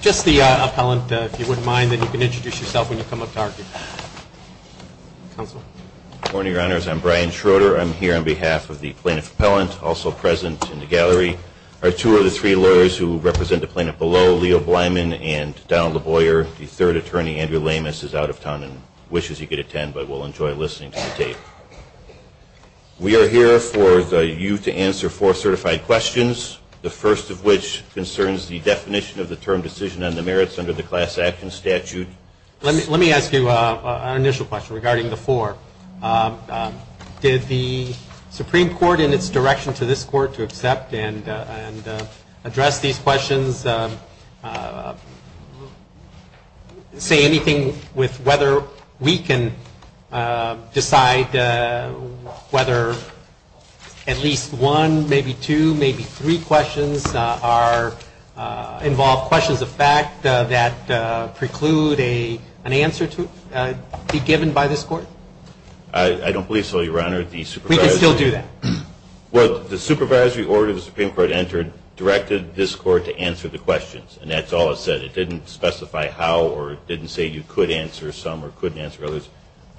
Just the appellant, if you wouldn't mind, then you can introduce yourself when you come up to our council. Good morning, your honors. I'm Brian Schroeder. I'm here on behalf of the plaintiff appellant, also present in the gallery. Our two of the three lawyers who represent the and wishes he could attend, but will enjoy listening to the tape. We are here for you to answer four certified questions, the first of which concerns the definition of the term decision and the merits under the class action statute. Let me ask you an initial question regarding the four. Did the Supreme Court in its direction to this court to accept and say anything with whether we can decide whether at least one, maybe two, maybe three questions involve questions of fact that preclude an answer to be given by this court? I don't believe so, your honor. We can still do that. Well, the supervisory order the Supreme Court entered directed this court to answer the questions. And that's all it said. It didn't specify how or it didn't say you could answer some or couldn't answer others.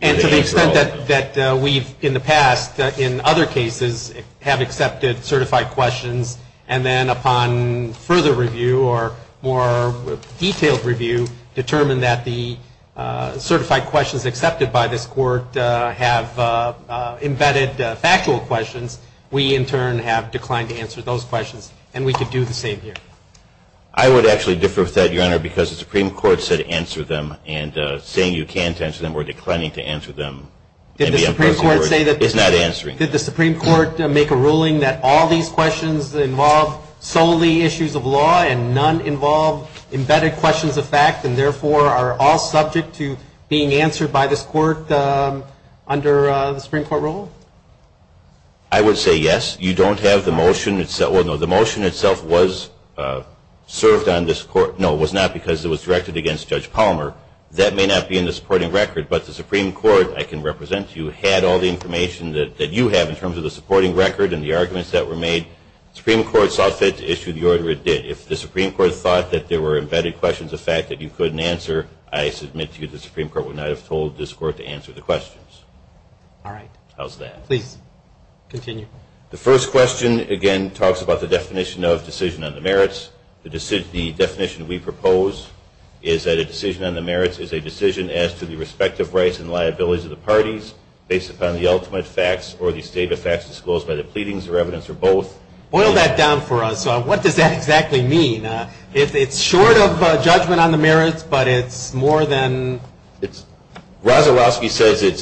And to the extent that we've in the past in other cases have accepted certified questions and then upon further review or more detailed review determined that the certified questions accepted by this court have embedded factual questions, we in turn have declined to answer those questions. And we could do the same here. I would actually differ with that, your honor, because the Supreme Court said answer them. And saying you can't answer them or declining to answer them is not answering. Did the Supreme Court make a ruling that all these questions involve solely issues of law and none involve embedded questions of fact and therefore are all subject to being answered by this court under the Supreme Court rule? I would say yes. You don't have the motion itself. Well, no, the motion itself was served on this court. No, it was not because it was directed against Judge Palmer. That may not be in the supporting record. But the Supreme Court, I can represent you, had all the information that you have in terms of the supporting record and the arguments that were made. The Supreme Court saw fit to issue the order it did. If the Supreme Court thought that there were embedded questions of fact that you couldn't answer, I submit to you the Supreme Court would not have told this court to answer the questions. All right. How's that? Please continue. The first question, again, talks about the definition of decision on the merits. The definition we propose is that a decision on the merits is a decision as to the respective rights and liabilities of the parties based upon the ultimate facts or the stated facts disclosed by the pleadings or evidence or both. Boil that down for us. What does that exactly mean? It's short of a judgment on the merits, but it's more than it's- Roszelowski says it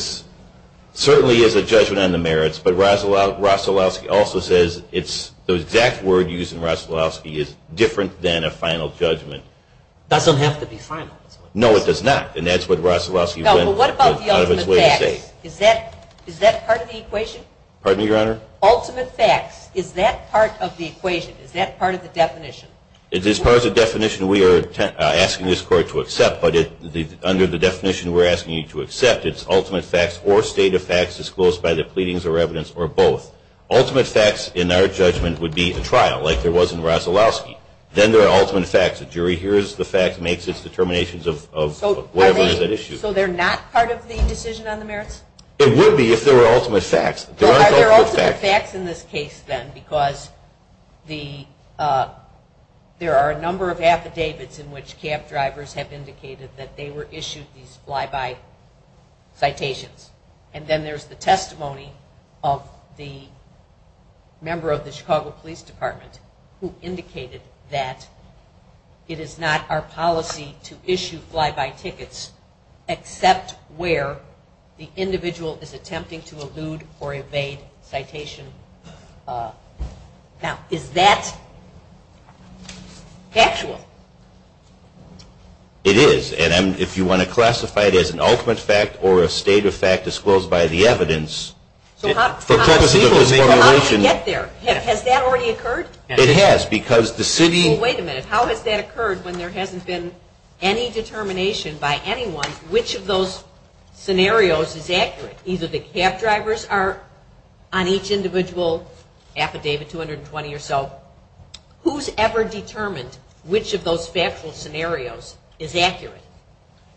certainly is a judgment on the merits, but Roszelowski also says the exact word used in Roszelowski is different than a final judgment. It doesn't have to be final. No, it does not. And that's what Roszelowski went out of its way to say. No, but what about the ultimate facts? Is that part of the equation? Pardon me, Your Honor? Ultimate facts. Is that part of the equation? Is that part of the definition? It is part of the definition we are asking this court to accept, but under the definition we're asking you to accept, it's ultimate facts or stated facts disclosed by the pleadings or evidence or both. Ultimate facts, in our judgment, would be a trial, like there was in Roszelowski. Then there are ultimate facts. The jury hears the facts, makes its determinations of whatever is at issue. So they're not part of the decision on the merits? It would be if there were ultimate facts. Are there ultimate facts in this case, then, because there are a number of affidavits in which cab drivers have indicated that they were issued these fly-by citations. And then there's the testimony of the member of the Chicago Police Department who indicated that it is not our policy to issue fly-by tickets except where the individual is attempting to elude or evade citation. Now, is that factual? It is, and if you want to classify it as an ultimate fact or a stated fact disclosed by the evidence. So how does it get there? Has that already occurred? It has, because the city... Well, wait a minute. How has that occurred when there hasn't been any determination by on each individual affidavit, 220 or so, who's ever determined which of those factual scenarios is accurate?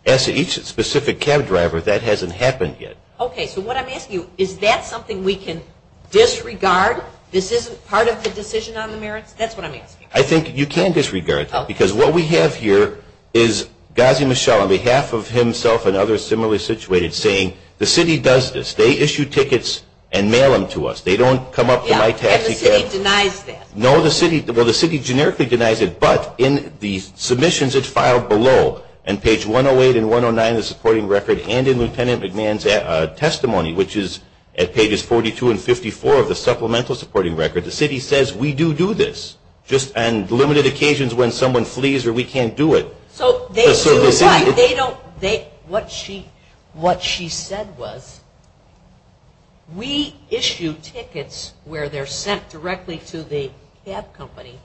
As to each specific cab driver, that hasn't happened yet. Okay, so what I'm asking you, is that something we can disregard? This isn't part of the decision on the merits? That's what I'm asking. I think you can disregard that, because what we have here is Gazi Michel, on behalf of himself and others similarly situated, saying the city does this. They issue tickets and mail them to us. They don't come up to my taxi cab... Yeah, and the city denies that. No, the city... Well, the city generically denies it, but in the submissions it's filed below, on page 108 and 109 of the supporting record, and in Lieutenant McMahon's testimony, which is at pages 42 and 54 of the supplemental supporting record, the city says we do do this, just on limited occasions when someone flees or we can't do it. So they do what? They don't... What she said was, we issue tickets where they're sent directly to the cab company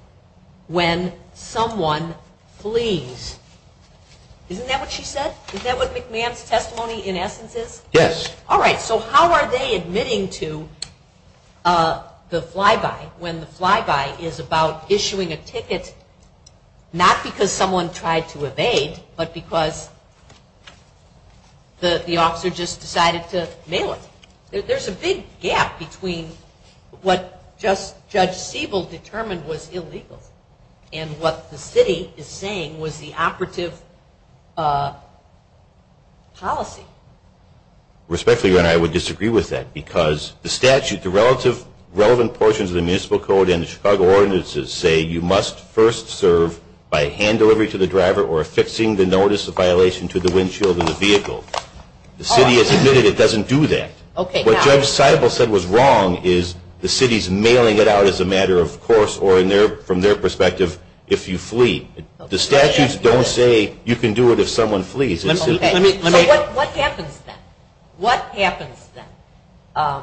when someone flees. Isn't that what she said? Is that what McMahon's testimony, in essence, is? Yes. All right, so how are they admitting to the flyby, when the flyby is about issuing a ticket, not because someone tried to evade, but because the officer just decided to mail it? There's a big gap between what Judge Siebel determined was illegal and what the city is saying was the operative policy. Respectfully, Your Honor, I would disagree with that, because the statute, the relative, relevant portions of the municipal code and the Chicago ordinances say you must first serve by hand delivery to the driver or affixing the notice of violation to the windshield of the vehicle. The city has admitted it doesn't do that. What Judge Siebel said was wrong is the city's mailing it out as a matter of course, or from their perspective, if you flee. The statutes don't say you can do it if someone flees. So what happens then? What happens then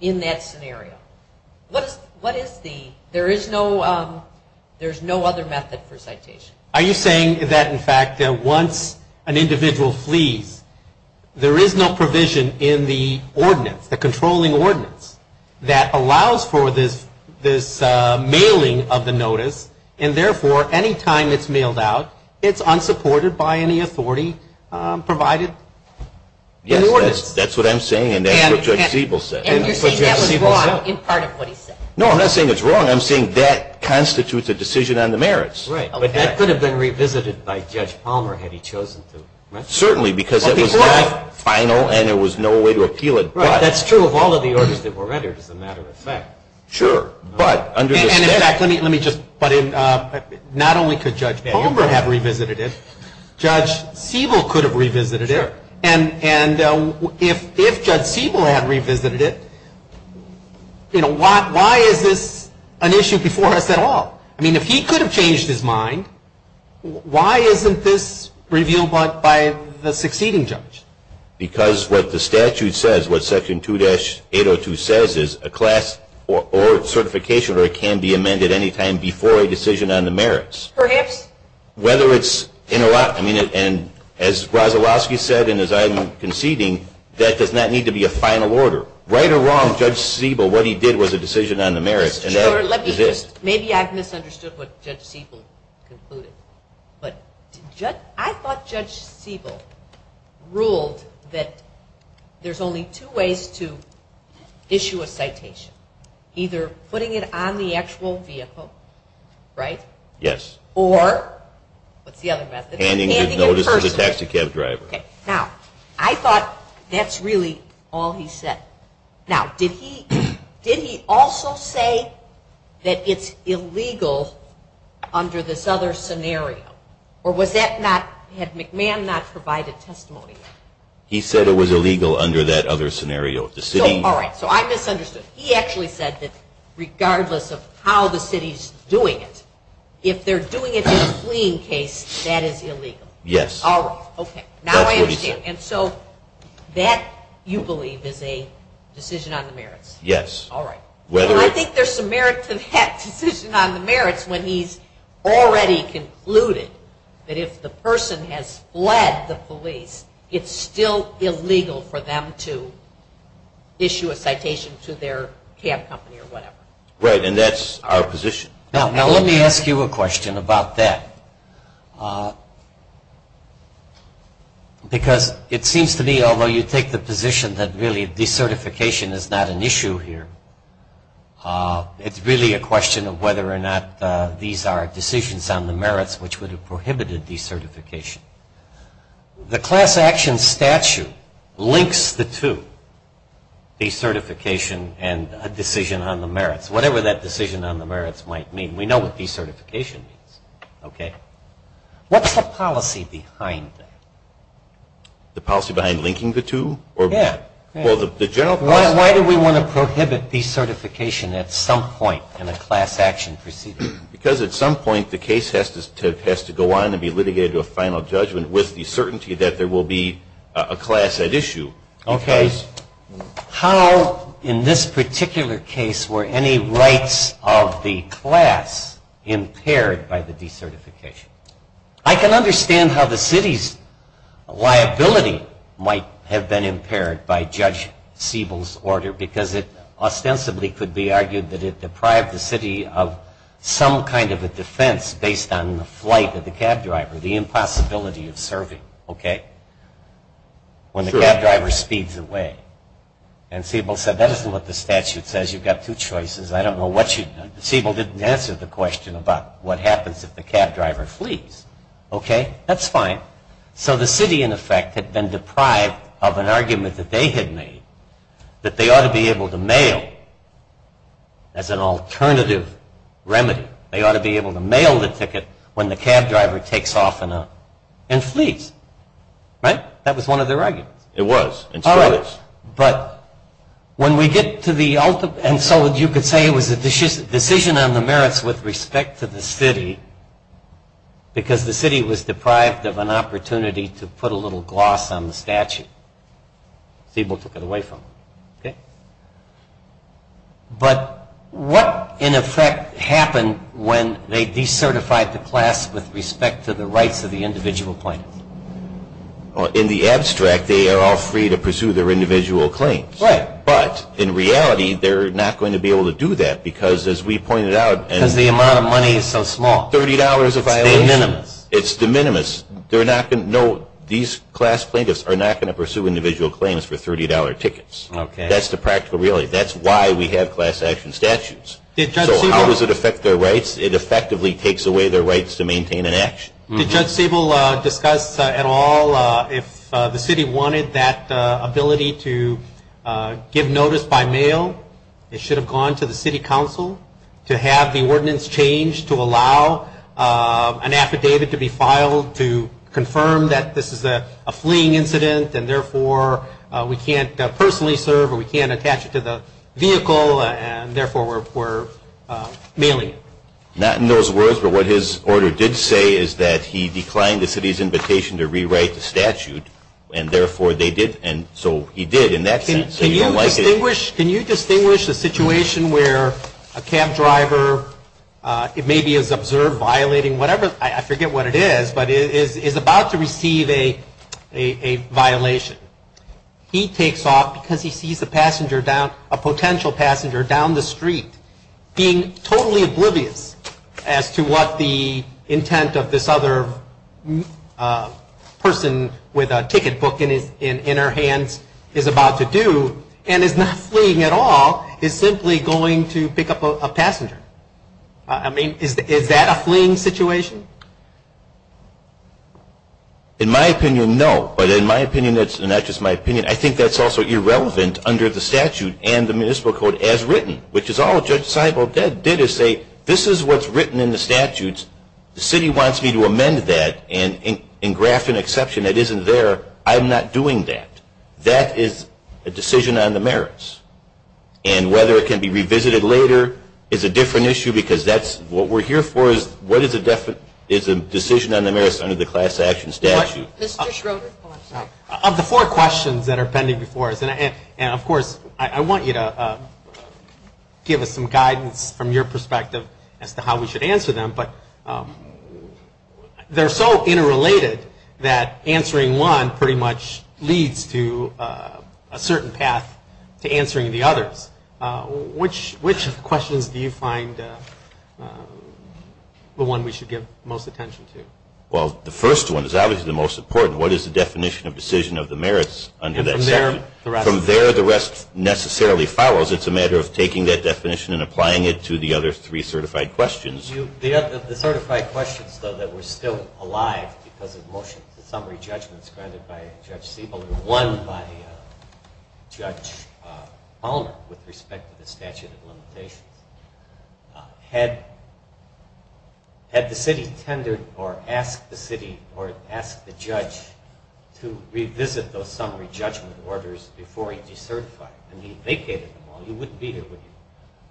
in that scenario? There is no other method for citation. Are you saying that, in fact, once an individual flees, there is no provision in the ordinance, the controlling ordinance, that allows for this mailing of the notice and, therefore, any time it's mailed out, it's unsupported by any authority provided in the ordinance? Yes, that's what I'm saying, and that's what Judge Siebel said. And you're saying that was wrong in part of what he said? No, I'm not saying it's wrong. I'm saying that constitutes a decision on the merits. Right, but that could have been revisited by Judge Palmer had he chosen to. Certainly, because it was final and there was no way to appeal it. Right, that's true of all of the orders that were rendered, as a matter of fact. And, in fact, not only could Judge Palmer have revisited it, Judge Siebel could have revisited it. And if Judge Siebel had revisited it, why is this an issue before us at all? I mean, if he could have changed his mind, why isn't this revealed by the succeeding judge? Because what the statute says, what Section 2-802 says, is a class or certification order can be amended any time before a decision on the merits. Perhaps. Whether it's in a lot, and as Rozalowski said, and as I'm conceding, that does not need to be a final order. Right or wrong, Judge Siebel, what he did was a decision on the merits. Maybe I've misunderstood what Judge Siebel concluded, but I thought Judge Siebel ruled that there's only two ways to issue a citation. Either putting it on the actual vehicle, right? Yes. Or, what's the other method? Handing a notice to the taxi cab driver. Okay, now, I thought that's really all he said. Now, did he also say that it's illegal under this other scenario? Or was that not, had McMahon not provided testimony? He said it was illegal under that other scenario. All right, so I misunderstood. He actually said that regardless of how the city's doing it, if they're doing it in a fleeing case, that is illegal. All right, okay. That's what he said. Decision on the merits. Yes. All right. I think there's some merit to that decision on the merits when he's already concluded that if the person has fled the police, it's still illegal for them to issue a citation to their cab company or whatever. Right, and that's our position. Now, let me ask you a question about that. Because it seems to me, although you take the position that really decertification is not an issue here, it's really a question of whether or not these are decisions on the merits which would have prohibited decertification. The class action statute links the two, decertification and a decision on the merits. Whatever that decision on the merits might mean. We know what decertification means, okay? What's the policy behind that? The policy behind linking the two? Yeah. Well, the general policy. Why do we want to prohibit decertification at some point in a class action proceeding? Because at some point the case has to go on and be litigated to a final judgment with the certainty that there will be a class at issue. Okay. How, in this particular case, were any rights of the class impaired by the decertification? I can understand how the city's liability might have been impaired by Judge Siebel's order, because it ostensibly could be argued that it deprived the city of some kind of a defense based on the flight of the cab driver, the impossibility of serving, okay, when the cab driver speeds away. And Siebel said, that isn't what the statute says. You've got two choices. I don't know what you, Siebel didn't answer the question about what happens if the cab driver flees. Okay, that's fine. So the city, in effect, had been deprived of an argument that they had made that they ought to be able to mail as an alternative remedy. They ought to be able to mail the ticket when the cab driver takes off and flees. Right? That was one of their arguments. It was. But when we get to the ultimate, and so you could say it was a decision on the merits with respect to the city, because the city was deprived of an opportunity to put a little gloss on the statute. Siebel took it away from them, okay? But what, in effect, happened when they decertified the class with respect to the rights of the individual plaintiffs? In the abstract, they are all free to pursue their individual claims. Right. But, in reality, they're not going to be able to do that, because, as we pointed out, and $30 is a violation. It's de minimis. No, these class plaintiffs are not going to pursue individual claims for $30 tickets. That's the practical reality. That's why we have class action statutes. So how does it affect their rights? It effectively takes away their rights to maintain an action. Did Judge Siebel discuss at all if the city wanted that ability to give notice by mail? It should have gone to the city council to have the ordinance changed to allow an affidavit to be filed to confirm that this is a fleeing incident and, therefore, we can't personally serve or we can't attach it to the vehicle, and, therefore, we're mailing it. Not in those words, but what his order did say is that he declined the city's invitation to rewrite the statute, and, therefore, they did. And so he did in that sense. Can you distinguish the situation where a cab driver maybe is observed violating whatever, I forget what it is, but is about to receive a violation. He takes off because he sees a passenger down, a potential passenger down the street, being totally oblivious as to what the intent of this other person with a ticket book in her hands is about to do, and is not fleeing at all, is simply going to pick up a passenger. I mean, is that a fleeing situation? In my opinion, no. But in my opinion, and not just my opinion, I think that's also irrelevant under the statute and the municipal code as written, which is all Judge Seibel did is say, this is what's written in the statutes. The city wants me to amend that and graft an exception that isn't there. I'm not doing that. That is a decision on the merits, and whether it can be revisited later is a different issue because that's what we're here for is what is a decision on the merits under the class action statute. Of the four questions that are pending before us, and of course, I want you to give us some guidance from your perspective as to how we should answer them, but they're so interrelated that answering one pretty much leads to a certain path to answering the others. Which questions do you find the one we should give most attention to? Well, the first one is obviously the most important. What is the definition of decision of the merits under that statute? From there, the rest necessarily follows. It's a matter of taking that definition and applying it to the other three certified questions. The certified questions, though, that were still alive because of motions and summary judgments granted by Judge Seibel or won by Judge Palmer with respect to the statute of limitations, had the city tendered or asked the city or asked the judge to revisit those summary judgment orders before he decertified? I mean, he vacated them all. He wouldn't be here, would he?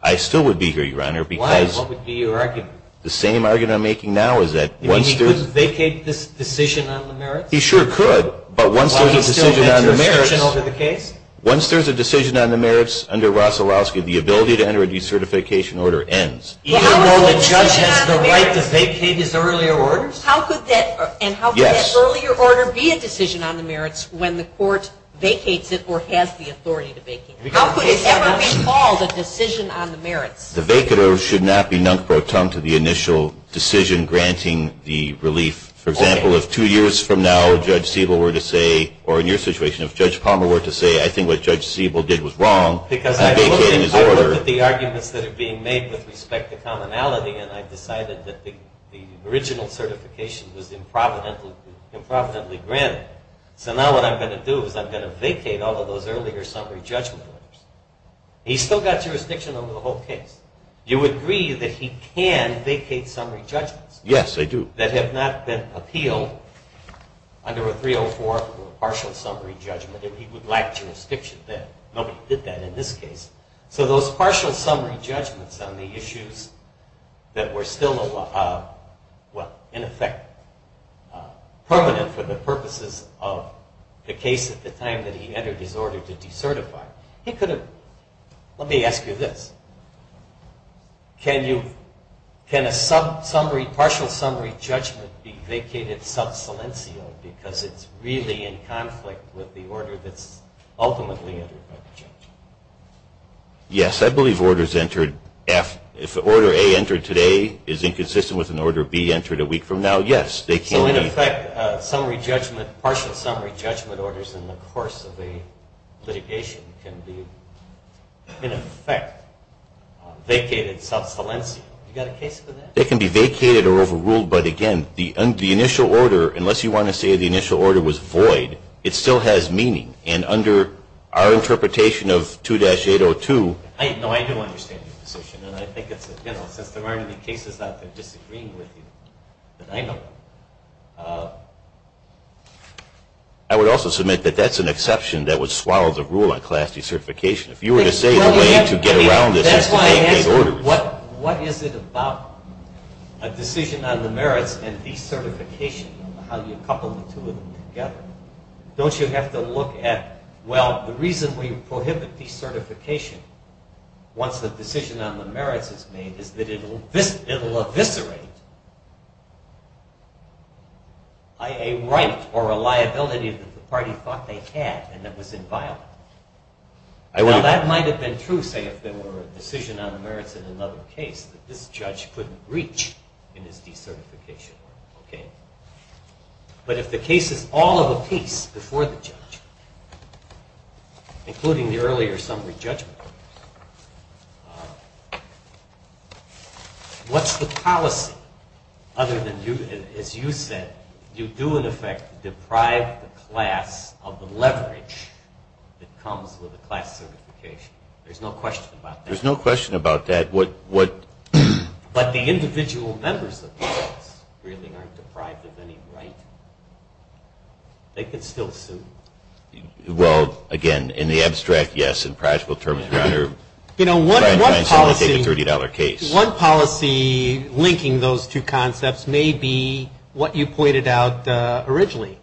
I still would be here, Your Honor. Why? What would be your argument? The same argument I'm making now is that once there's – You mean he couldn't vacate this decision on the merits? He sure could. But once there's a decision on the merits under Rosolowski, the ability to enter a decertification order ends. Even though the judge has the right to vacate his earlier orders? Yes. How could that earlier order be a decision on the merits when the court vacates it or has the authority to vacate it? How could it ever be called a decision on the merits? The vacate order should not be nunc pro tempore to the initial decision granting the relief. For example, if two years from now, Judge Siebel were to say – or in your situation, if Judge Palmer were to say, I think what Judge Siebel did was wrong in vacating his order – Because I look at the arguments that are being made with respect to commonality, and I've decided that the original certification was improvidently granted. So now what I'm going to do is I'm going to vacate all of those earlier summary judgment orders. He's still got jurisdiction over the whole case. Do you agree that he can vacate summary judgments? Yes, I do. That have not been appealed under a 304 partial summary judgment, and he would lack jurisdiction then. Nobody did that in this case. So those partial summary judgments on the issues that were still, well, in effect, permanent for the purposes of the case at the time that he entered his order to decertify, he could have – Let me ask you this. Can you – can a partial summary judgment be vacated sub silencio because it's really in conflict with the order that's ultimately entered by the judge? Yes. I believe orders entered – if order A entered today is inconsistent with an order B entered a week from now, yes, they can be – So in effect, summary judgment – partial summary judgment orders in the course of a litigation can be, in effect, vacated sub silencio. You got a case for that? They can be vacated or overruled, but again, the initial order, unless you want to say the initial order was void, it still has meaning. And under our interpretation of 2-802 – No, I do understand your position, and I think it's – you know, since there aren't any cases out there disagreeing with you, then I know. I would also submit that that's an exception that would swallow the rule on class decertification. If you were to say the way to get around this – That's why I asked you, what is it about a decision on the merits and decertification, how you couple the two of them together? Don't you have to look at, well, the reason we prohibit decertification once the decision on the merits is made is that it will eviscerate a right or a liability that the party thought they had and that was inviolable. Now, that might have been true, say, if there were a decision on the merits in another case that this judge couldn't reach in his decertification order, okay? But if the case is all of a piece before the judge, including the earlier summary judgment, what's the policy other than, as you said, you do in effect deprive the class of the leverage that comes with a class certification? There's no question about that. There's no question about that. But the individual members of the class really aren't deprived of any right. They can still sue. Well, again, in the abstract, yes. In practical terms, you're under – One policy linking those two concepts may be what you pointed out originally,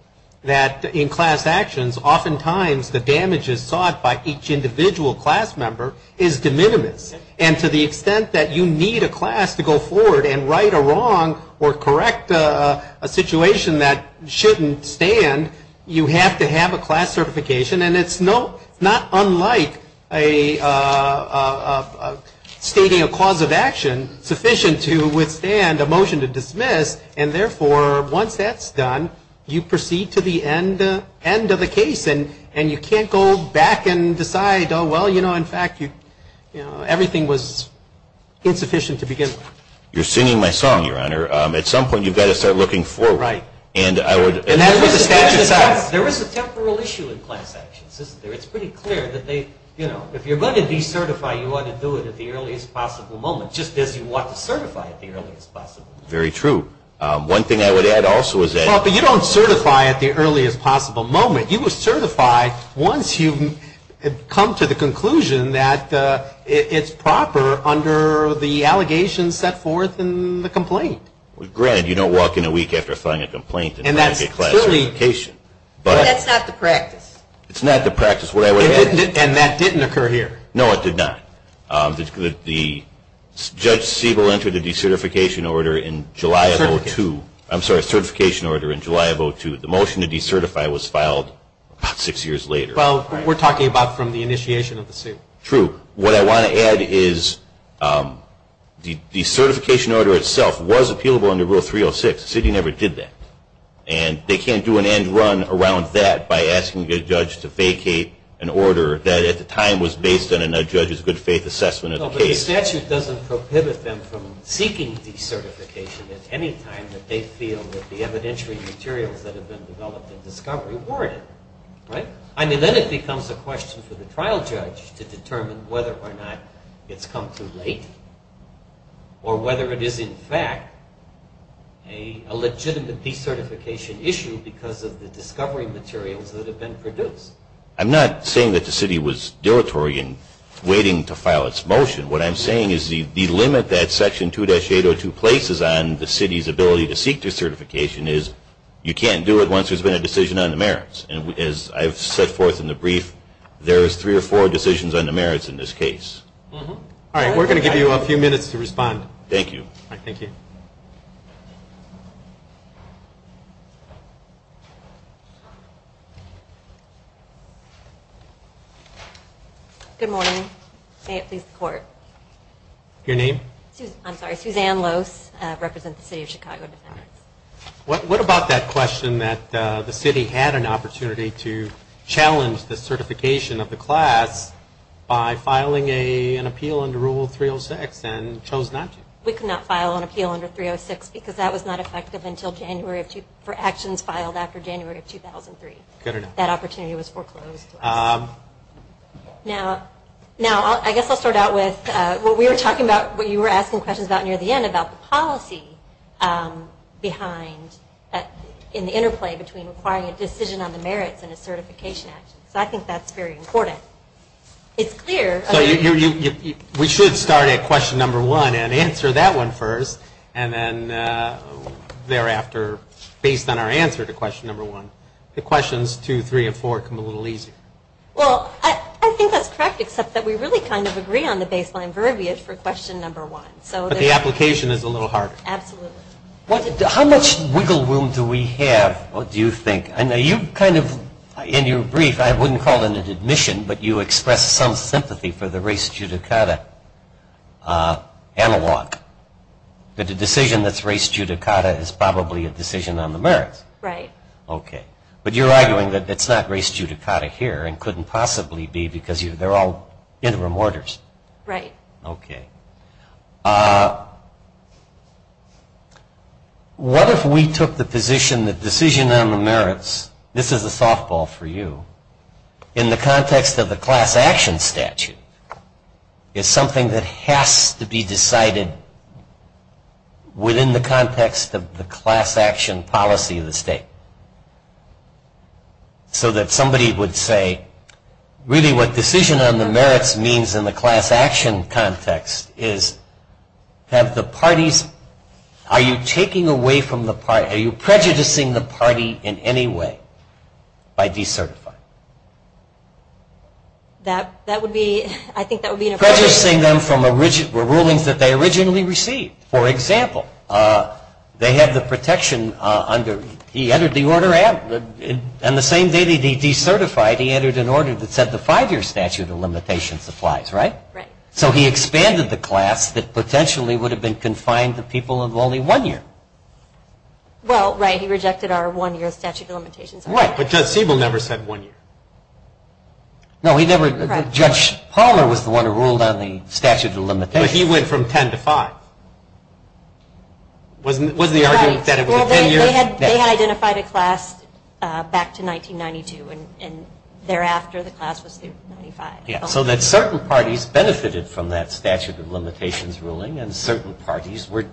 that in class actions, oftentimes the damage is sought by each individual class member is de minimis. And to the extent that you need a class to go forward and right a wrong or correct a situation that shouldn't stand, you have to have a class certification. And it's not unlike stating a cause of action sufficient to withstand a motion to dismiss. And therefore, once that's done, you proceed to the end of the case. And you can't go back and decide, oh, well, you know, in fact, everything was insufficient to begin with. You're singing my song, Your Honor. At some point, you've got to start looking forward. Right. And I would – And that's what the statute says. There is a temporal issue in class actions, isn't there? It's pretty clear that they, you know, if you're going to decertify, you ought to do it at the earliest possible moment, just as you want to certify at the earliest possible moment. Very true. One thing I would add also is that – Once you come to the conclusion that it's proper under the allegations set forth in the complaint. Granted, you don't walk in a week after filing a complaint and not get class certification. And that's not the practice. It's not the practice. And that didn't occur here. No, it did not. Judge Siebel entered a decertification order in July of 02. I'm sorry, a certification order in July of 02. The motion to decertify was filed about six years later. Well, we're talking about from the initiation of the suit. True. What I want to add is the decertification order itself was appealable under Rule 306. The city never did that. And they can't do an end run around that by asking a judge to vacate an order that at the time was based on a judge's good faith assessment of the case. The statute doesn't prohibit them from seeking decertification at any time that they feel that the evidentiary materials that have been developed in discovery warrant it. Right? I mean, then it becomes a question for the trial judge to determine whether or not it's come too late or whether it is in fact a legitimate decertification issue because of the discovery materials that have been produced. I'm not saying that the city was dilatory in waiting to file its motion. What I'm saying is the limit that Section 2-802 places on the city's ability to seek decertification is you can't do it once there's been a decision on the merits. And as I've set forth in the brief, there's three or four decisions on the merits in this case. All right, we're going to give you a few minutes to respond. Thank you. All right, thank you. Good morning. May it please the Court. Your name? I'm sorry. Suzanne Lose. I represent the city of Chicago. What about that question that the city had an opportunity to challenge the certification of the class by filing an appeal under Rule 306 and chose not to? We could not file an appeal under 306 because that was not effective until January for actions filed after January of 2003. That opportunity was foreclosed. Now, I guess I'll start out with what we were talking about, what you were asking questions about near the end about the policy behind, in the interplay between requiring a decision on the merits and a certification action. So I think that's very important. It's clear. We should start at question number one and answer that one first, and then thereafter, based on our answer to question number one. The questions two, three, and four come a little easier. Well, I think that's correct, except that we really kind of agree on the baseline verbiage for question number one. But the application is a little harder. Absolutely. How much wiggle room do we have, do you think? I know you kind of, in your brief, I wouldn't call it an admission, but you expressed some sympathy for the race judicata analog, that a decision that's race judicata is probably a decision on the merits. Right. Okay. But you're arguing that it's not race judicata here and couldn't possibly be because they're all interim orders. Right. Okay. What if we took the position that decision on the merits, this is a softball for you, in the context of the class action statute, is something that has to be decided within the context of the class action policy of the state? So that somebody would say, really what decision on the merits means in the class action context is, have the parties, are you taking away from the party, are you prejudicing the party in any way by decertifying? That would be, I think that would be an approach. Prejudicing them from rulings that they originally received. For example, they had the protection under, he entered the order and the same day that he decertified, he entered an order that said the five-year statute of limitations applies, right? Right. So he expanded the class that potentially would have been confined to people of only one year. Well, right, he rejected our one-year statute of limitations. Right. But Judge Siebel never said one year. No, he never, Judge Palmer was the one who ruled on the statute of limitations. But he went from ten to five. Wasn't the argument that it was a ten-year? Well, they had identified a class back to 1992, and thereafter the class was 95. So that certain parties benefited from that statute of limitations ruling, and certain parties were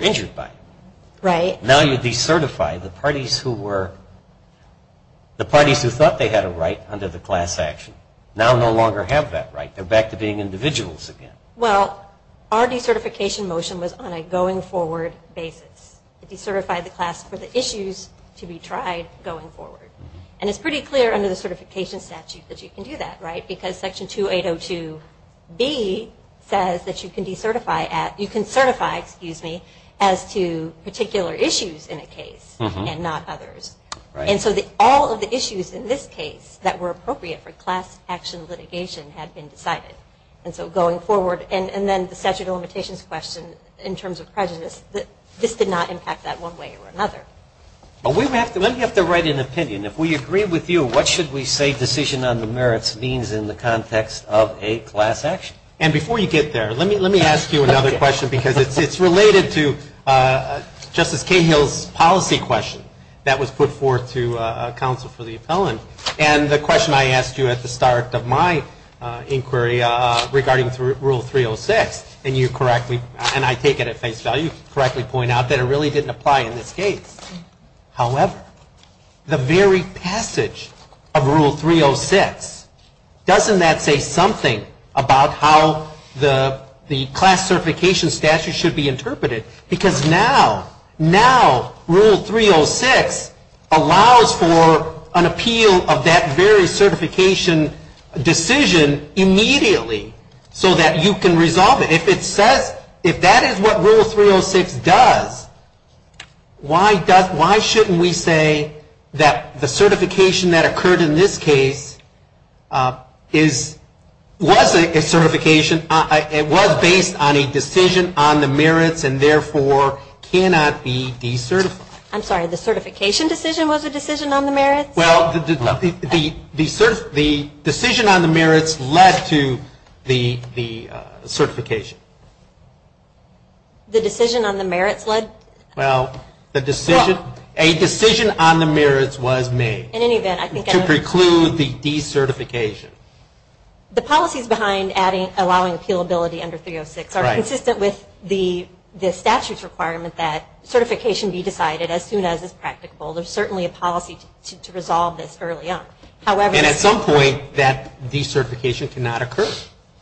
injured by it. Right. Now you decertify the parties who were, the parties who thought they had a right under the class action, now no longer have that right. They're back to being individuals again. Well, our decertification motion was on a going-forward basis. It decertified the class for the issues to be tried going forward. And it's pretty clear under the certification statute that you can do that, right, because Section 2802B says that you can decertify, excuse me, as to particular issues in a case and not others. Right. And so all of the issues in this case that were appropriate for class action litigation had been decided. And so going forward, and then the statute of limitations question in terms of prejudice, this did not impact that one way or another. Let me have to write an opinion. If we agree with you, what should we say decision on the merits means in the context of a class action? And before you get there, let me ask you another question, because it's related to Justice Cahill's policy question that was put forth to counsel for the appellant. And the question I asked you at the start of my inquiry regarding Rule 306, and you correctly, and I take it at face value, correctly point out that it really didn't apply in this case. However, the very passage of Rule 306, doesn't that say something about how the class certification statute should be interpreted? Because now, now Rule 306 allows for an appeal of that very certification decision immediately so that you can resolve it. If it says, if that is what Rule 306 does, why shouldn't we say that the certification that occurred in this case was a certification, it was based on a decision on the merits and therefore cannot be decertified? I'm sorry, the certification decision was a decision on the merits? Well, the decision on the merits led to the certification. The decision on the merits led? Well, a decision on the merits was made to preclude the decertification. The policies behind allowing appealability under 306 are consistent with the statute's requirement that certification be decided as soon as it's practicable. There's certainly a policy to resolve this early on. And at some point, that decertification cannot occur.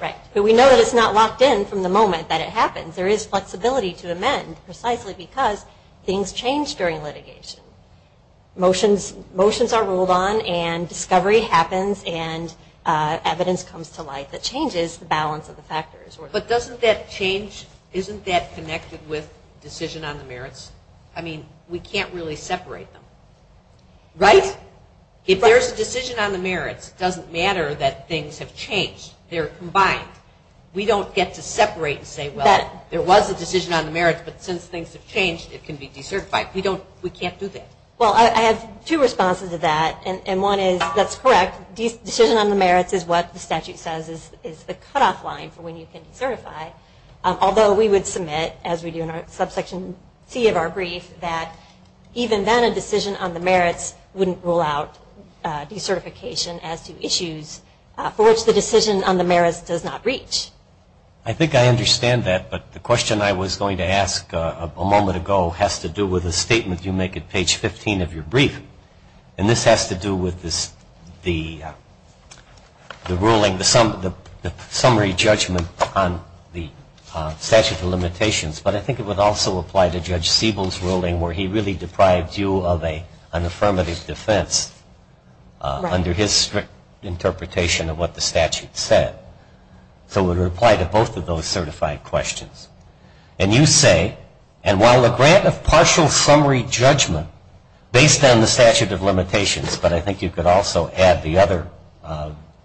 Right, but we know that it's not locked in from the moment that it happens. There is flexibility to amend precisely because things change during litigation. Motions are ruled on and discovery happens and evidence comes to light that changes the balance of the factors. But doesn't that change, isn't that connected with decision on the merits? I mean, we can't really separate them. Right? If there's a decision on the merits, it doesn't matter that things have changed. They're combined. We don't get to separate and say, well, there was a decision on the merits, but since things have changed, it can be decertified. We can't do that. Well, I have two responses to that, and one is that's correct. Decision on the merits is what the statute says is the cutoff line for when you can decertify, although we would submit, as we do in Subsection C of our brief, that even then, a decision on the merits wouldn't rule out decertification as to issues for which the decision on the merits does not reach. I think I understand that, but the question I was going to ask a moment ago has to do with a statement you make at page 15 of your brief, and this has to do with the ruling, the summary judgment on the statute of limitations, but I think it would also apply to Judge Siebel's ruling where he really deprived you of an affirmative defense under his strict interpretation of what the statute said. So it would apply to both of those certified questions. And you say, and while the grant of partial summary judgment, based on the statute of limitations, but I think you could also add the other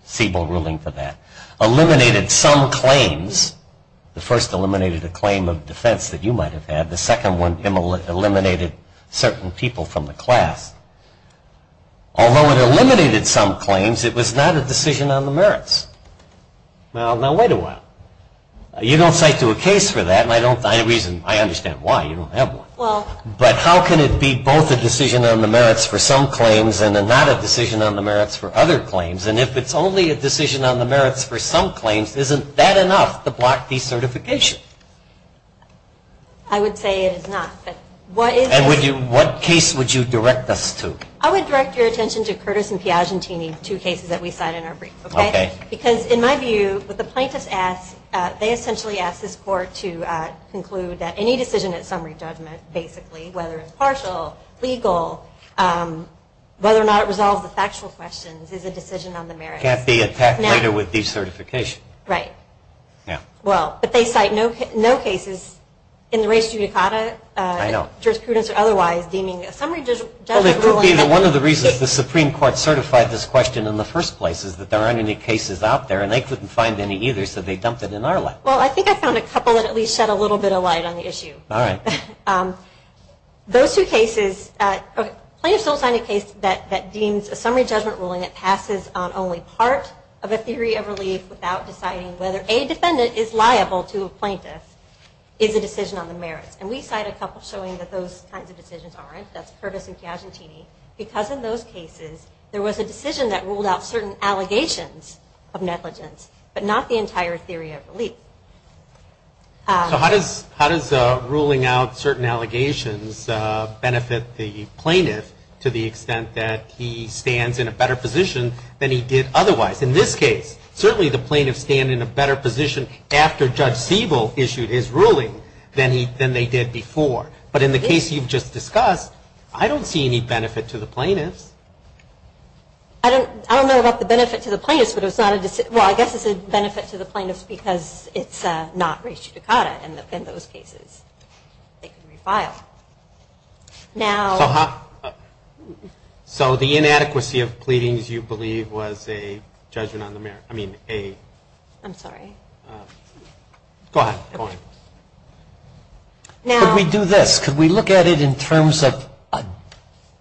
Siebel ruling to that, eliminated some claims. The first eliminated a claim of defense that you might have had. The second one eliminated certain people from the class. Although it eliminated some claims, it was not a decision on the merits. Now, wait a while. You don't cite to a case for that, and I understand why. You don't have one. But how can it be both a decision on the merits for some claims and not a decision on the merits for other claims? And if it's only a decision on the merits for some claims, isn't that enough to block decertification? I would say it is not. And what case would you direct us to? I would direct your attention to Curtis and Piagentini, two cases that we cite in our brief. Okay. Because in my view, what the plaintiffs ask, they essentially ask this court to conclude that any decision at summary judgment, basically, whether it's partial, legal, whether or not it resolves the factual questions, is a decision on the merits. It can't be attacked later with decertification. Right. Yeah. Well, but they cite no cases in the res judicata. I know. Jurisprudence or otherwise deeming a summary judgment ruling. Well, it could be that one of the reasons that the Supreme Court certified this question in the first place is that there aren't any cases out there, and they couldn't find any either, so they dumped it in our lap. Well, I think I found a couple that at least shed a little bit of light on the issue. All right. Those two cases, a plaintiff still signed a case that deems a summary judgment ruling that passes on only part of a theory of relief without deciding whether a defendant is liable to a plaintiff is a decision on the merits. And we cite a couple showing that those kinds of decisions aren't. That's Curtis and Chiagentini, because in those cases, there was a decision that ruled out certain allegations of negligence, but not the entire theory of relief. So how does ruling out certain allegations benefit the plaintiff to the extent that he stands in a better position than he did otherwise? In this case, certainly the plaintiffs stand in a better position after Judge Siebel issued his ruling than they did before. But in the case you've just discussed, I don't see any benefit to the plaintiffs. I don't know about the benefit to the plaintiffs, but it's not a decision. Well, I guess it's a benefit to the plaintiffs because it's not res judicata, and in those cases, they can refile. So the inadequacy of pleadings, you believe, was a judgment on the merits? I'm sorry. Go ahead. Could we do this? Could we look at it in terms of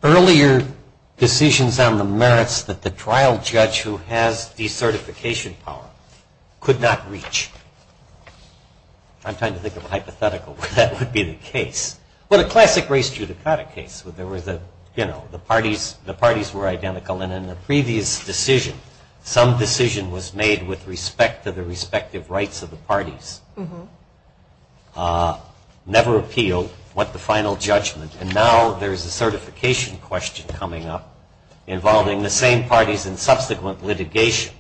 earlier decisions on the merits that the trial judge who has decertification power could not reach? I'm trying to think of a hypothetical where that would be the case. Well, a classic res judicata case where the parties were identical, and in the previous decision, some decision was made with respect to the respective rights of the parties, never appealed, went to final judgment, and now there's a certification question coming up involving the same parties in subsequent litigation.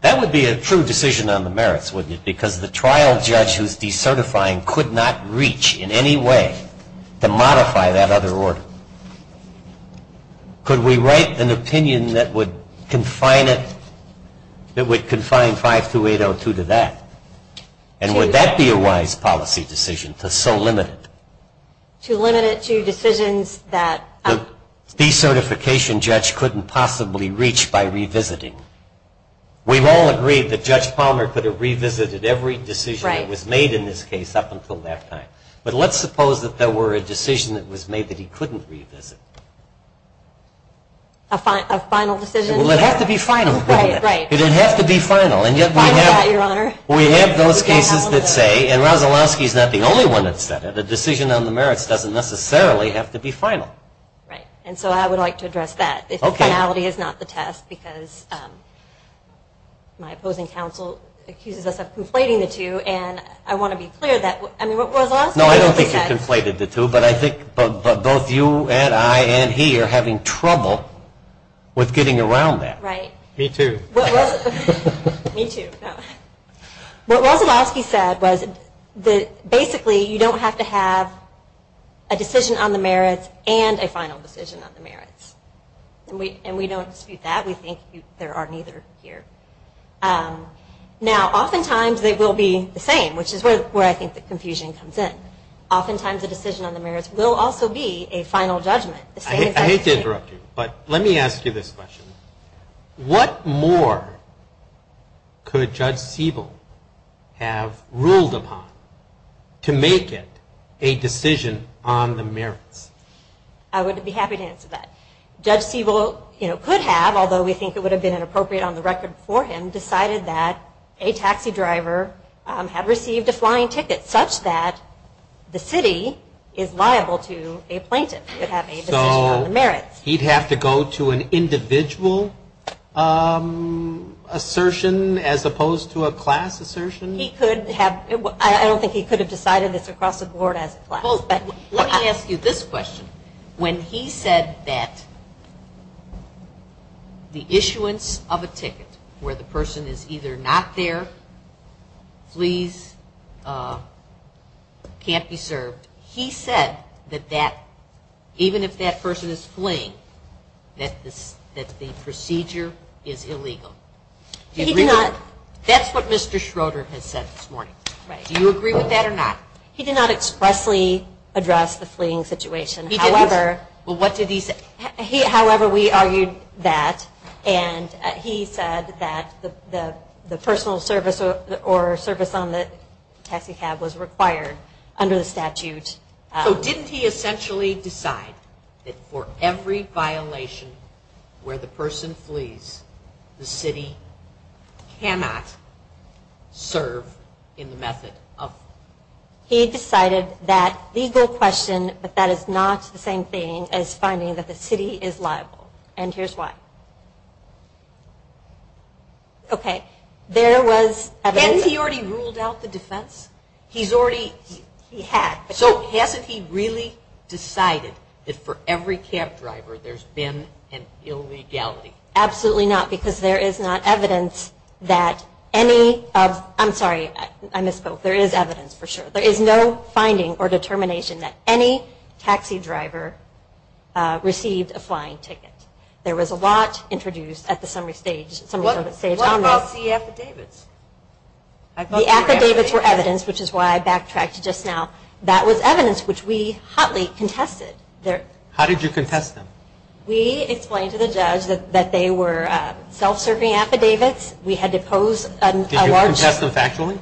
That would be a true decision on the merits, wouldn't it, because the trial judge who's decertifying could not reach in any way to modify that other order. Could we write an opinion that would confine 52802 to that? And would that be a wise policy decision to so limit it? To limit it to decisions that... ...that the decertification judge couldn't possibly reach by revisiting. We've all agreed that Judge Palmer could have revisited every decision that was made in this case up until that time. But let's suppose that there were a decision that was made that he couldn't revisit. A final decision? Well, it'd have to be final, wouldn't it? Right, right. It'd have to be final. And yet we have those cases that say, and Rozalowski's not the only one that's said it, that the decision on the merits doesn't necessarily have to be final. Right. And so I would like to address that, if the finality is not the test, because my opposing counsel accuses us of conflating the two, and I want to be clear that... No, I don't think you've conflated the two, but I think both you and I and he are having trouble with getting around that. Right. Me too. Me too. What Rozalowski said was that basically you don't have to have a decision on the merits and a final decision on the merits. And we don't dispute that. We think there are neither here. Now, oftentimes they will be the same, which is where I think the confusion comes in. Oftentimes a decision on the merits will also be a final judgment. I hate to interrupt you, but let me ask you this question. What more could Judge Siebel have ruled upon to make it a decision on the merits? I would be happy to answer that. Judge Siebel could have, although we think it would have been inappropriate on the record for him, decided that a taxi driver had received a flying ticket, such that the city is liable to a plaintiff if they have a decision on the merits. He'd have to go to an individual assertion as opposed to a class assertion? He could have. I don't think he could have decided it's across the board as a class. Let me ask you this question. When he said that the issuance of a ticket where the person is either not there, flees, can't be served, he said that even if that person is fleeing, that the procedure is illegal. He did not. That's what Mr. Schroeder has said this morning. Do you agree with that or not? He did not expressly address the fleeing situation. He did not. Well, what did he say? However, we argued that, and he said that the personal service or service on the taxi cab was required under the statute. So didn't he essentially decide that for every violation where the person flees, the city cannot serve in the method of? He decided that legal question, but that is not the same thing as finding that the city is liable, and here's why. Okay. There was evidence. Hasn't he already ruled out the defense? He's already? He had. So hasn't he really decided that for every cab driver there's been an illegality? Absolutely not, because there is not evidence that any of, I'm sorry, I misspoke. There is evidence for sure. There is no finding or determination that any taxi driver received a flying ticket. There was a lot introduced at the summary stage. What about the affidavits? The affidavits were evidence, which is why I backtracked just now. That was evidence which we hotly contested. How did you contest them? We explained to the judge that they were self-serving affidavits. We had to pose a large number. Did you contest them factually?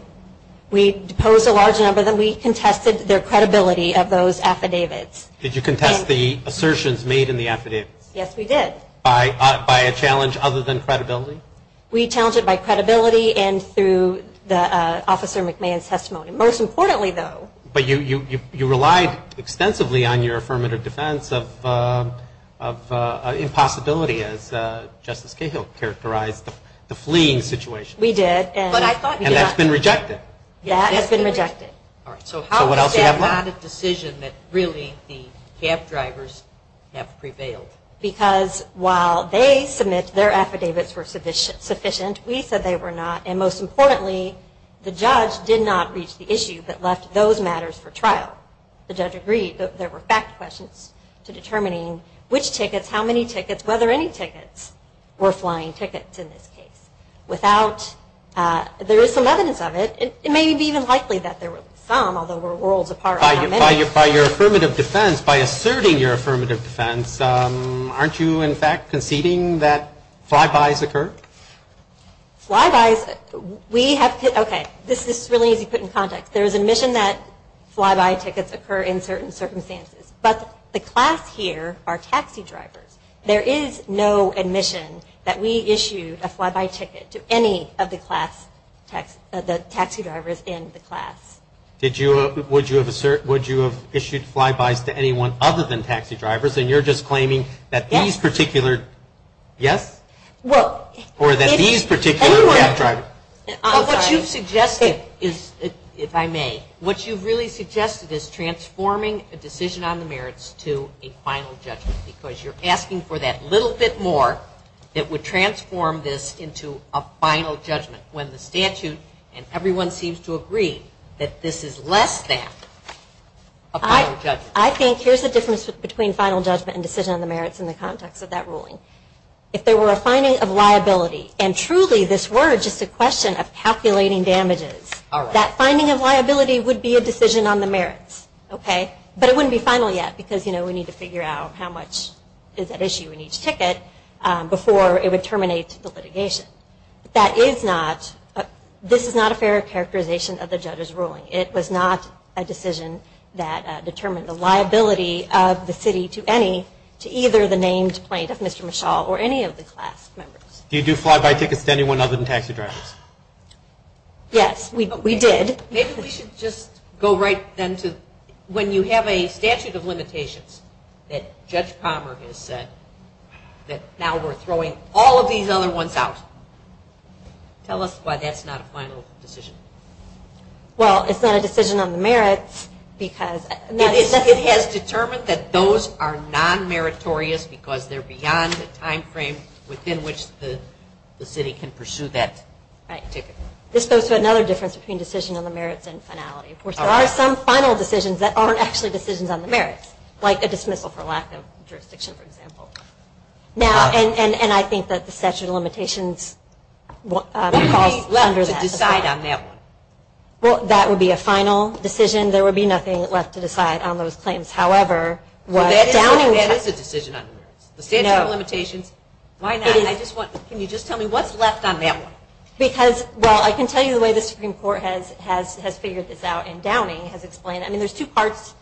We posed a large number. Then we contested their credibility of those affidavits. Did you contest the assertions made in the affidavits? Yes, we did. By a challenge other than credibility? We challenged it by credibility and through Officer McMahon's testimony. Most importantly, though. But you relied extensively on your affirmative defense of impossibility, as Justice Cahill characterized the fleeing situation. We did. And that's been rejected. That has been rejected. So how is that not a decision that really the cab drivers have prevailed? Because while they submit their affidavits were sufficient, we said they were not. Most importantly, the judge did not reach the issue but left those matters for trial. The judge agreed that there were fact questions to determining which tickets, how many tickets, whether any tickets were flying tickets in this case. There is some evidence of it. It may be even likely that there were some, although we're worlds apart on how many. By your affirmative defense, by asserting your affirmative defense, aren't you, in fact, conceding that flybys occur? Flybys? Okay, this is really easy to put in context. There is admission that flyby tickets occur in certain circumstances. But the class here are taxi drivers. There is no admission that we issue a flyby ticket to any of the taxi drivers in the class. Would you have issued flybys to anyone other than taxi drivers, and you're just claiming that these particular, yes? Or that these particular cab drivers? What you've suggested, if I may, what you've really suggested is transforming a decision on the merits to a final judgment because you're asking for that little bit more that would transform this into a final judgment when the statute and everyone seems to agree that this is less than a final judgment. I think here's the difference between final judgment and decision on the merits in the context of that ruling. If there were a finding of liability, and truly this were just a question of calculating damages, that finding of liability would be a decision on the merits. But it wouldn't be final yet because we need to figure out how much is at issue in each ticket before it would terminate the litigation. This is not a fair characterization of the judge's ruling. It was not a decision that determined the liability of the city to any, to either the named plaintiff, Mr. Michal, or any of the class members. Do you do flyby tickets to anyone other than taxi drivers? Yes, we did. Maybe we should just go right then to when you have a statute of limitations that Judge Palmer has said that now we're throwing all of these other ones out. Tell us why that's not a final decision. Well, it's not a decision on the merits because... It has determined that those are non-meritorious because they're beyond the time frame within which the city can pursue that ticket. This goes to another difference between decision on the merits and finality. Of course, there are some final decisions that aren't actually decisions on the merits, like a dismissal for lack of jurisdiction, for example. And I think that the statute of limitations... There would be nothing left to decide on that one. Well, that would be a final decision. There would be nothing left to decide on those claims. Well, that is a decision on the merits. The statute of limitations, why not? Can you just tell me what's left on that one? Because, well, I can tell you the way the Supreme Court has figured this out and Downing has explained it. I mean, there's two parts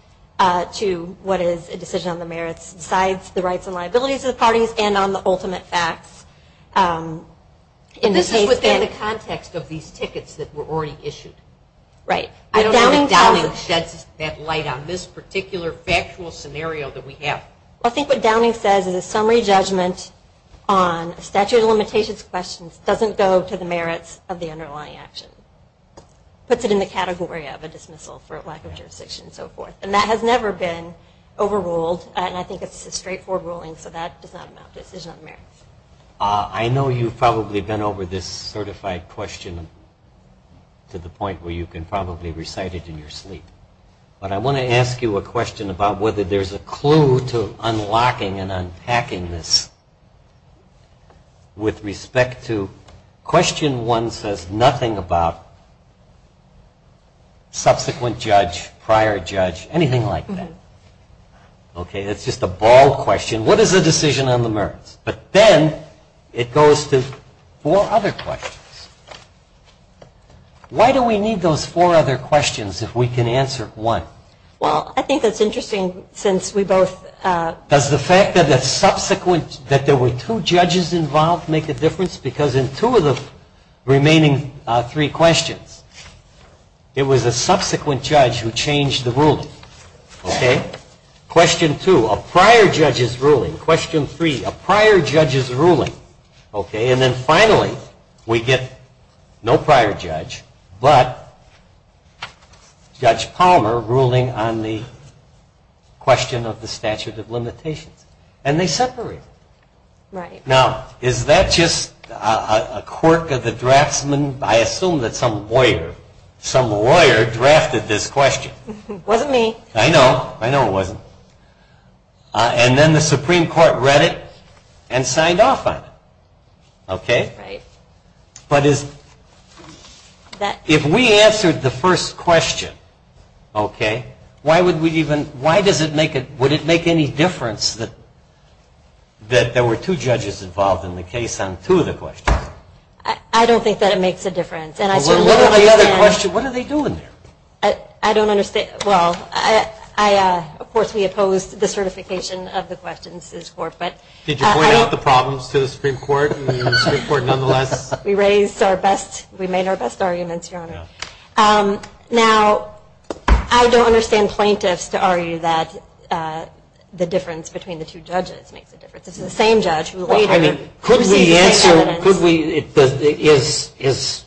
to what is a decision on the merits, besides the rights and liabilities of the parties and on the ultimate facts. This is within the context of these tickets that were already issued. I don't know if Downing sheds that light on this particular factual scenario that we have. I think what Downing says is a summary judgment on statute of limitations questions doesn't go to the merits of the underlying action. Puts it in the category of a dismissal for lack of jurisdiction and so forth. And that has never been overruled, and I think it's a straightforward ruling, I know you've probably been over this certified question to the point where you can probably recite it in your sleep. But I want to ask you a question about whether there's a clue to unlocking and unpacking this with respect to question one says nothing about subsequent judge, prior judge, anything like that. Okay, it's just a ball question. What is a decision on the merits? But then it goes to four other questions. Why do we need those four other questions if we can answer one? Well, I think that's interesting since we both. Does the fact that there were two judges involved make a difference? Because in two of the remaining three questions, it was a subsequent judge who changed the ruling. Okay, question two, a prior judge's ruling. Question three, a prior judge's ruling. Okay, and then finally, we get no prior judge, but Judge Palmer ruling on the question of the statute of limitations. And they separate. Now, is that just a quirk of the draftsman? I assume that some lawyer drafted this question. Wasn't me. I know. I know it wasn't. And then the Supreme Court read it and signed off on it. Okay? Right. But if we answered the first question, okay, why would we even, why does it make, would it make any difference that there were two judges involved in the case on two of the questions? I don't think that it makes a difference. Well, what are the other questions, what are they doing there? I don't understand. Well, I, of course, we opposed the certification of the questions to this court, but. Did you point out the problems to the Supreme Court and the Supreme Court nonetheless? We raised our best, we made our best arguments, Your Honor. Yeah. Now, I don't understand plaintiffs to argue that the difference between the two judges makes a difference. It's the same judge. I mean, could we answer, could we, is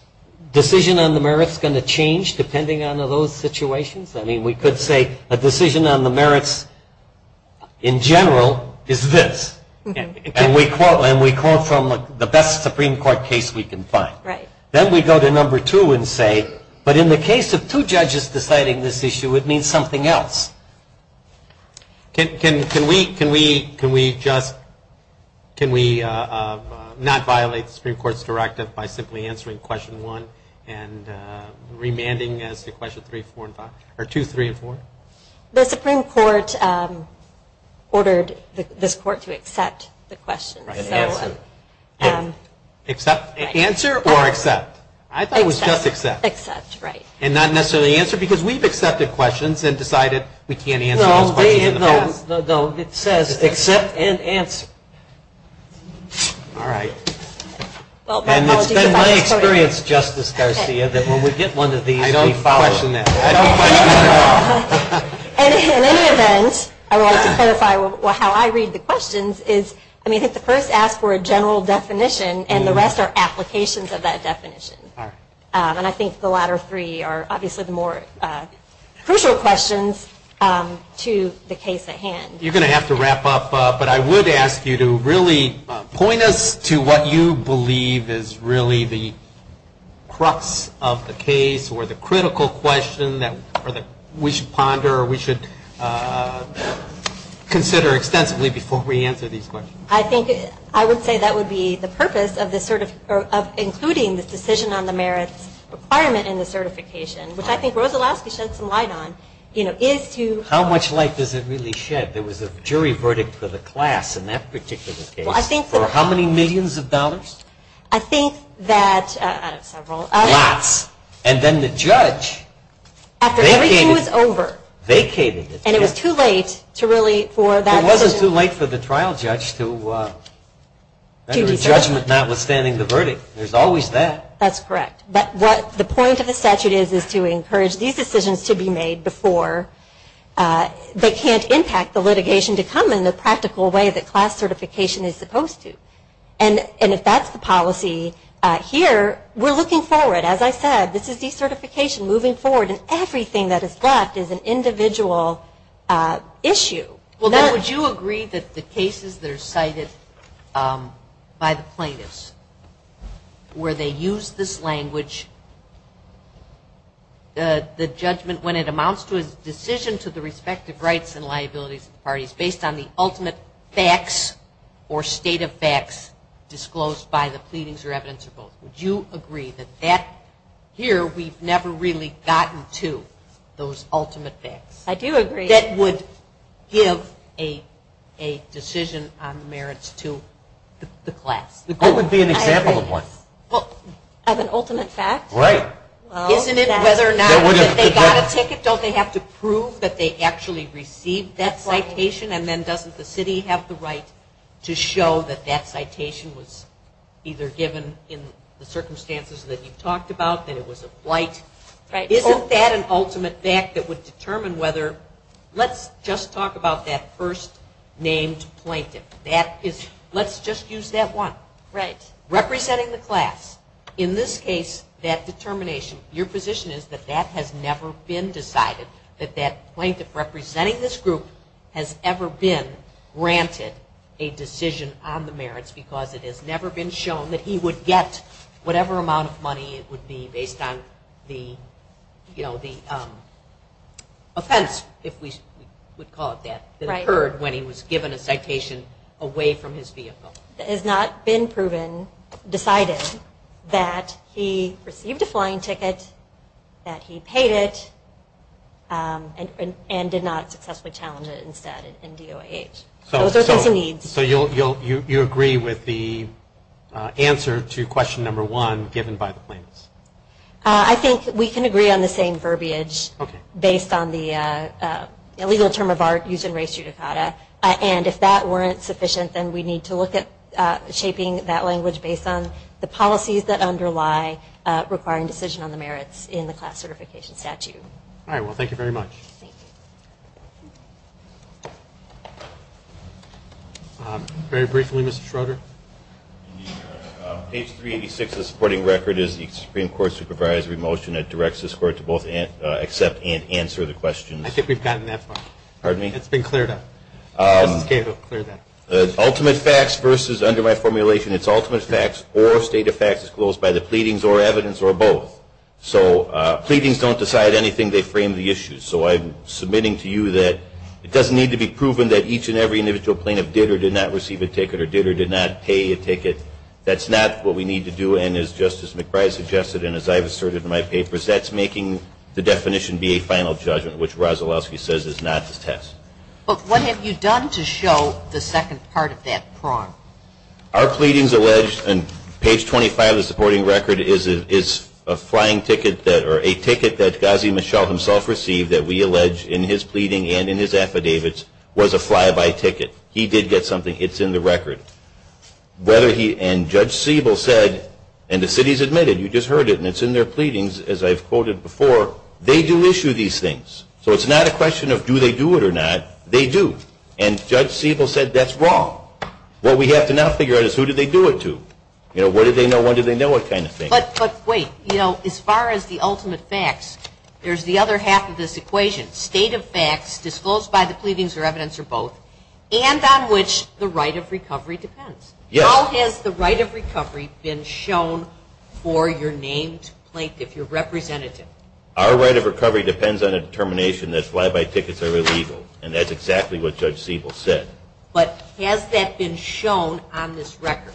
decision on the merits going to change depending on those situations? I mean, we could say a decision on the merits in general is this, and we quote from the best Supreme Court case we can find. Right. Then we go to number two and say, but in the case of two judges deciding this issue, it means something else. Can we just, can we not violate the Supreme Court's directive by simply answering question one and remanding as to question three, four, and five, or two, three, and four? The Supreme Court ordered this court to accept the questions. Right, and answer. Accept, answer, or accept? I thought it was just accept. Accept, right. And not necessarily answer because we've accepted questions and decided we can't answer those questions in the past. No, it says accept and answer. All right. And it's been my experience, Justice Garcia, that when we get one of these, we follow it. I don't question that. I don't question that at all. And in any event, I would like to clarify how I read the questions is, I mean, I think the first asks for a general definition, and the rest are applications of that definition. And I think the latter three are obviously the more crucial questions to the case at hand. You're going to have to wrap up, but I would ask you to really point us to what you believe is really the crux of the case or the critical question that we should ponder or we should consider extensively before we answer these questions. I think I would say that would be the purpose of including this decision on the merits requirement in the certification, which I think Rosalasky shed some light on, you know, is to How much light does it really shed? There was a jury verdict for the class in that particular case for how many millions of dollars? I think that, I don't know, several. Lots. And then the judge vacated it. After everything was over. And it was too late to really for that to It wasn't too late for the trial judge to make a judgment notwithstanding the verdict. There's always that. That's correct. But what the point of the statute is is to encourage these decisions to be made before they can't impact the litigation to come in the practical way that class certification is supposed to. And if that's the policy here, we're looking forward. As I said, this is decertification moving forward and everything that is left is an individual issue. Would you agree that the cases that are cited by the plaintiffs where they use this language, the judgment, when it amounts to a decision to the respective rights and liabilities of the parties based on the ultimate facts or state of facts disclosed by the pleadings or evidence or both, would you agree that here we've never really gotten to those ultimate facts? I do agree. That would give a decision on the merits to the class? What would be an example of one? Of an ultimate fact? Right. Isn't it whether or not they got a ticket, don't they have to prove that they actually received that citation and then doesn't the city have the right to show that that citation was either given in the circumstances that you talked about, that it was a blight? Isn't that an ultimate fact that would determine whether let's just talk about that first named plaintiff. Let's just use that one. Right. Representing the class, in this case that determination, your position is that that has never been decided, that that plaintiff representing this group has ever been granted a decision on the merits because it has never been shown that he would get whatever amount of money it would be based on the offense, if we would call it that, that occurred when he was given a citation away from his vehicle. It has not been proven, decided, that he received a flying ticket, that he paid it, and did not successfully challenge it instead in DOH. So those are the needs. So you agree with the answer to question number one given by the plaintiffs? I think we can agree on the same verbiage based on the legal term of art used in race judicata. And if that weren't sufficient, then we need to look at shaping that language based on the policies that underlie requiring decision on the merits in the class certification statute. All right. Well, thank you very much. Thank you. Very briefly, Mr. Schroeder. Page 386 of the supporting record is the Supreme Court's supervisory motion that directs this Court to both accept and answer the questions. I think we've gotten that far. Pardon me? It's been cleared up. Justice Cable, clear that. Ultimate facts versus, under my formulation, it's ultimate facts or state of facts disclosed by the pleadings or evidence or both. So pleadings don't decide anything. They frame the issues. So I'm submitting to you that it doesn't need to be proven that each and every individual plaintiff did or did not receive a ticket or did or did not pay a ticket. That's not what we need to do. And as Justice McBride suggested and as I've asserted in my papers, that's making the definition be a final judgment, which Rozalowski says is not the test. But what have you done to show the second part of that prong? Our pleadings allege, and page 25 of the supporting record is a flying ticket that or a ticket that Ghazi Mishal himself received that we allege in his pleading and in his affidavits was a fly-by ticket. He did get something. It's in the record. And Judge Siebel said, and the city's admitted, you just heard it, and it's in their pleadings as I've quoted before, they do issue these things. So it's not a question of do they do it or not. They do. And Judge Siebel said that's wrong. What we have to now figure out is who did they do it to. You know, what did they know, when did they know, that kind of thing. But wait. You know, as far as the ultimate facts, there's the other half of this equation, state of facts disclosed by the pleadings or evidence or both, and on which the right of recovery depends. Yes. How has the right of recovery been shown for your named plaintiff, your representative? Our right of recovery depends on a determination that fly-by tickets are illegal, and that's exactly what Judge Siebel said. But has that been shown on this record?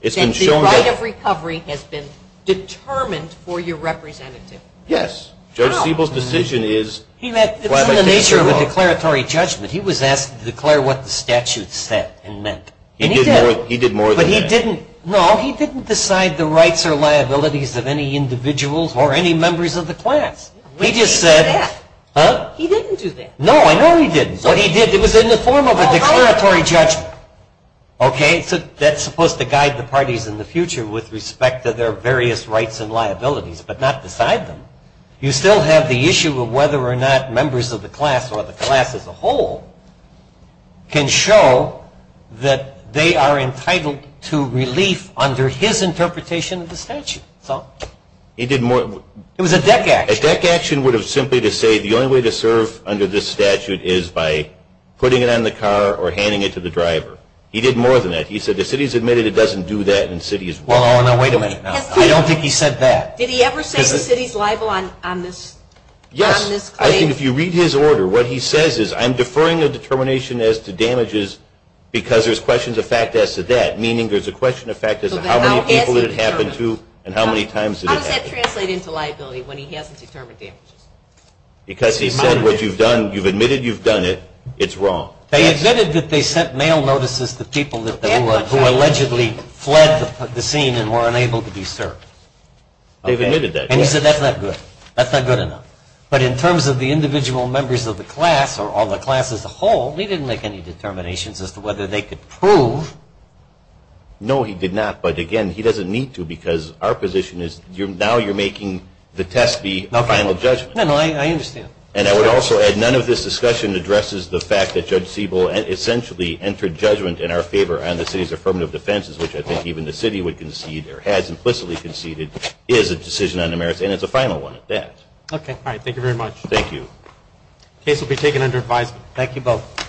It's been shown that the right of recovery has been determined for your representative. Yes. Judge Siebel's decision is fly-by tickets are illegal. It's in the nature of a declaratory judgment. He was asked to declare what the statute said and meant. And he did. He did more than that. But he didn't decide the rights or liabilities of any individuals or any members of the class. He just said. He didn't do that. Huh? He didn't do that. No, I know he didn't. But he did. It was in the form of a declaratory judgment. Okay. That's supposed to guide the parties in the future with respect to their various rights and liabilities, but not decide them. You still have the issue of whether or not members of the class or the class as a whole can show that they are entitled to relief under his interpretation of the statute. So. He did more. It was a deck action. A deck action would have simply to say the only way to serve under this statute is by putting it on the car or handing it to the driver. He did more than that. He said the city has admitted it doesn't do that and cities. Well, now wait a minute now. I don't think he said that. Did he ever say the city's liable on this claim? Yes. I think if you read his order, what he says is I'm deferring a determination as to damages because there's questions of fact as to that, meaning there's a question of fact as to how many people it happened to and how many times did it happen. How does that translate into liability when he hasn't determined damages? Because he said what you've done, you've admitted you've done it. It's wrong. They admitted that they sent mail notices to people who allegedly fled the scene and were unable to be served. They've admitted that. And he said that's not good. That's not good enough. But in terms of the individual members of the class or all the class as a whole, he didn't make any determinations as to whether they could prove. No, he did not. But, again, he doesn't need to because our position is now you're making the test be a final judgment. No, no, I understand. And I would also add none of this discussion addresses the fact that Judge Siebel essentially entered judgment in our favor on the city's affirmative defenses, which I think even the city would concede or has implicitly conceded is a decision on the merits, and it's a final one at that. Okay. All right. Thank you very much. Thank you. The case will be taken under advisement. Thank you both.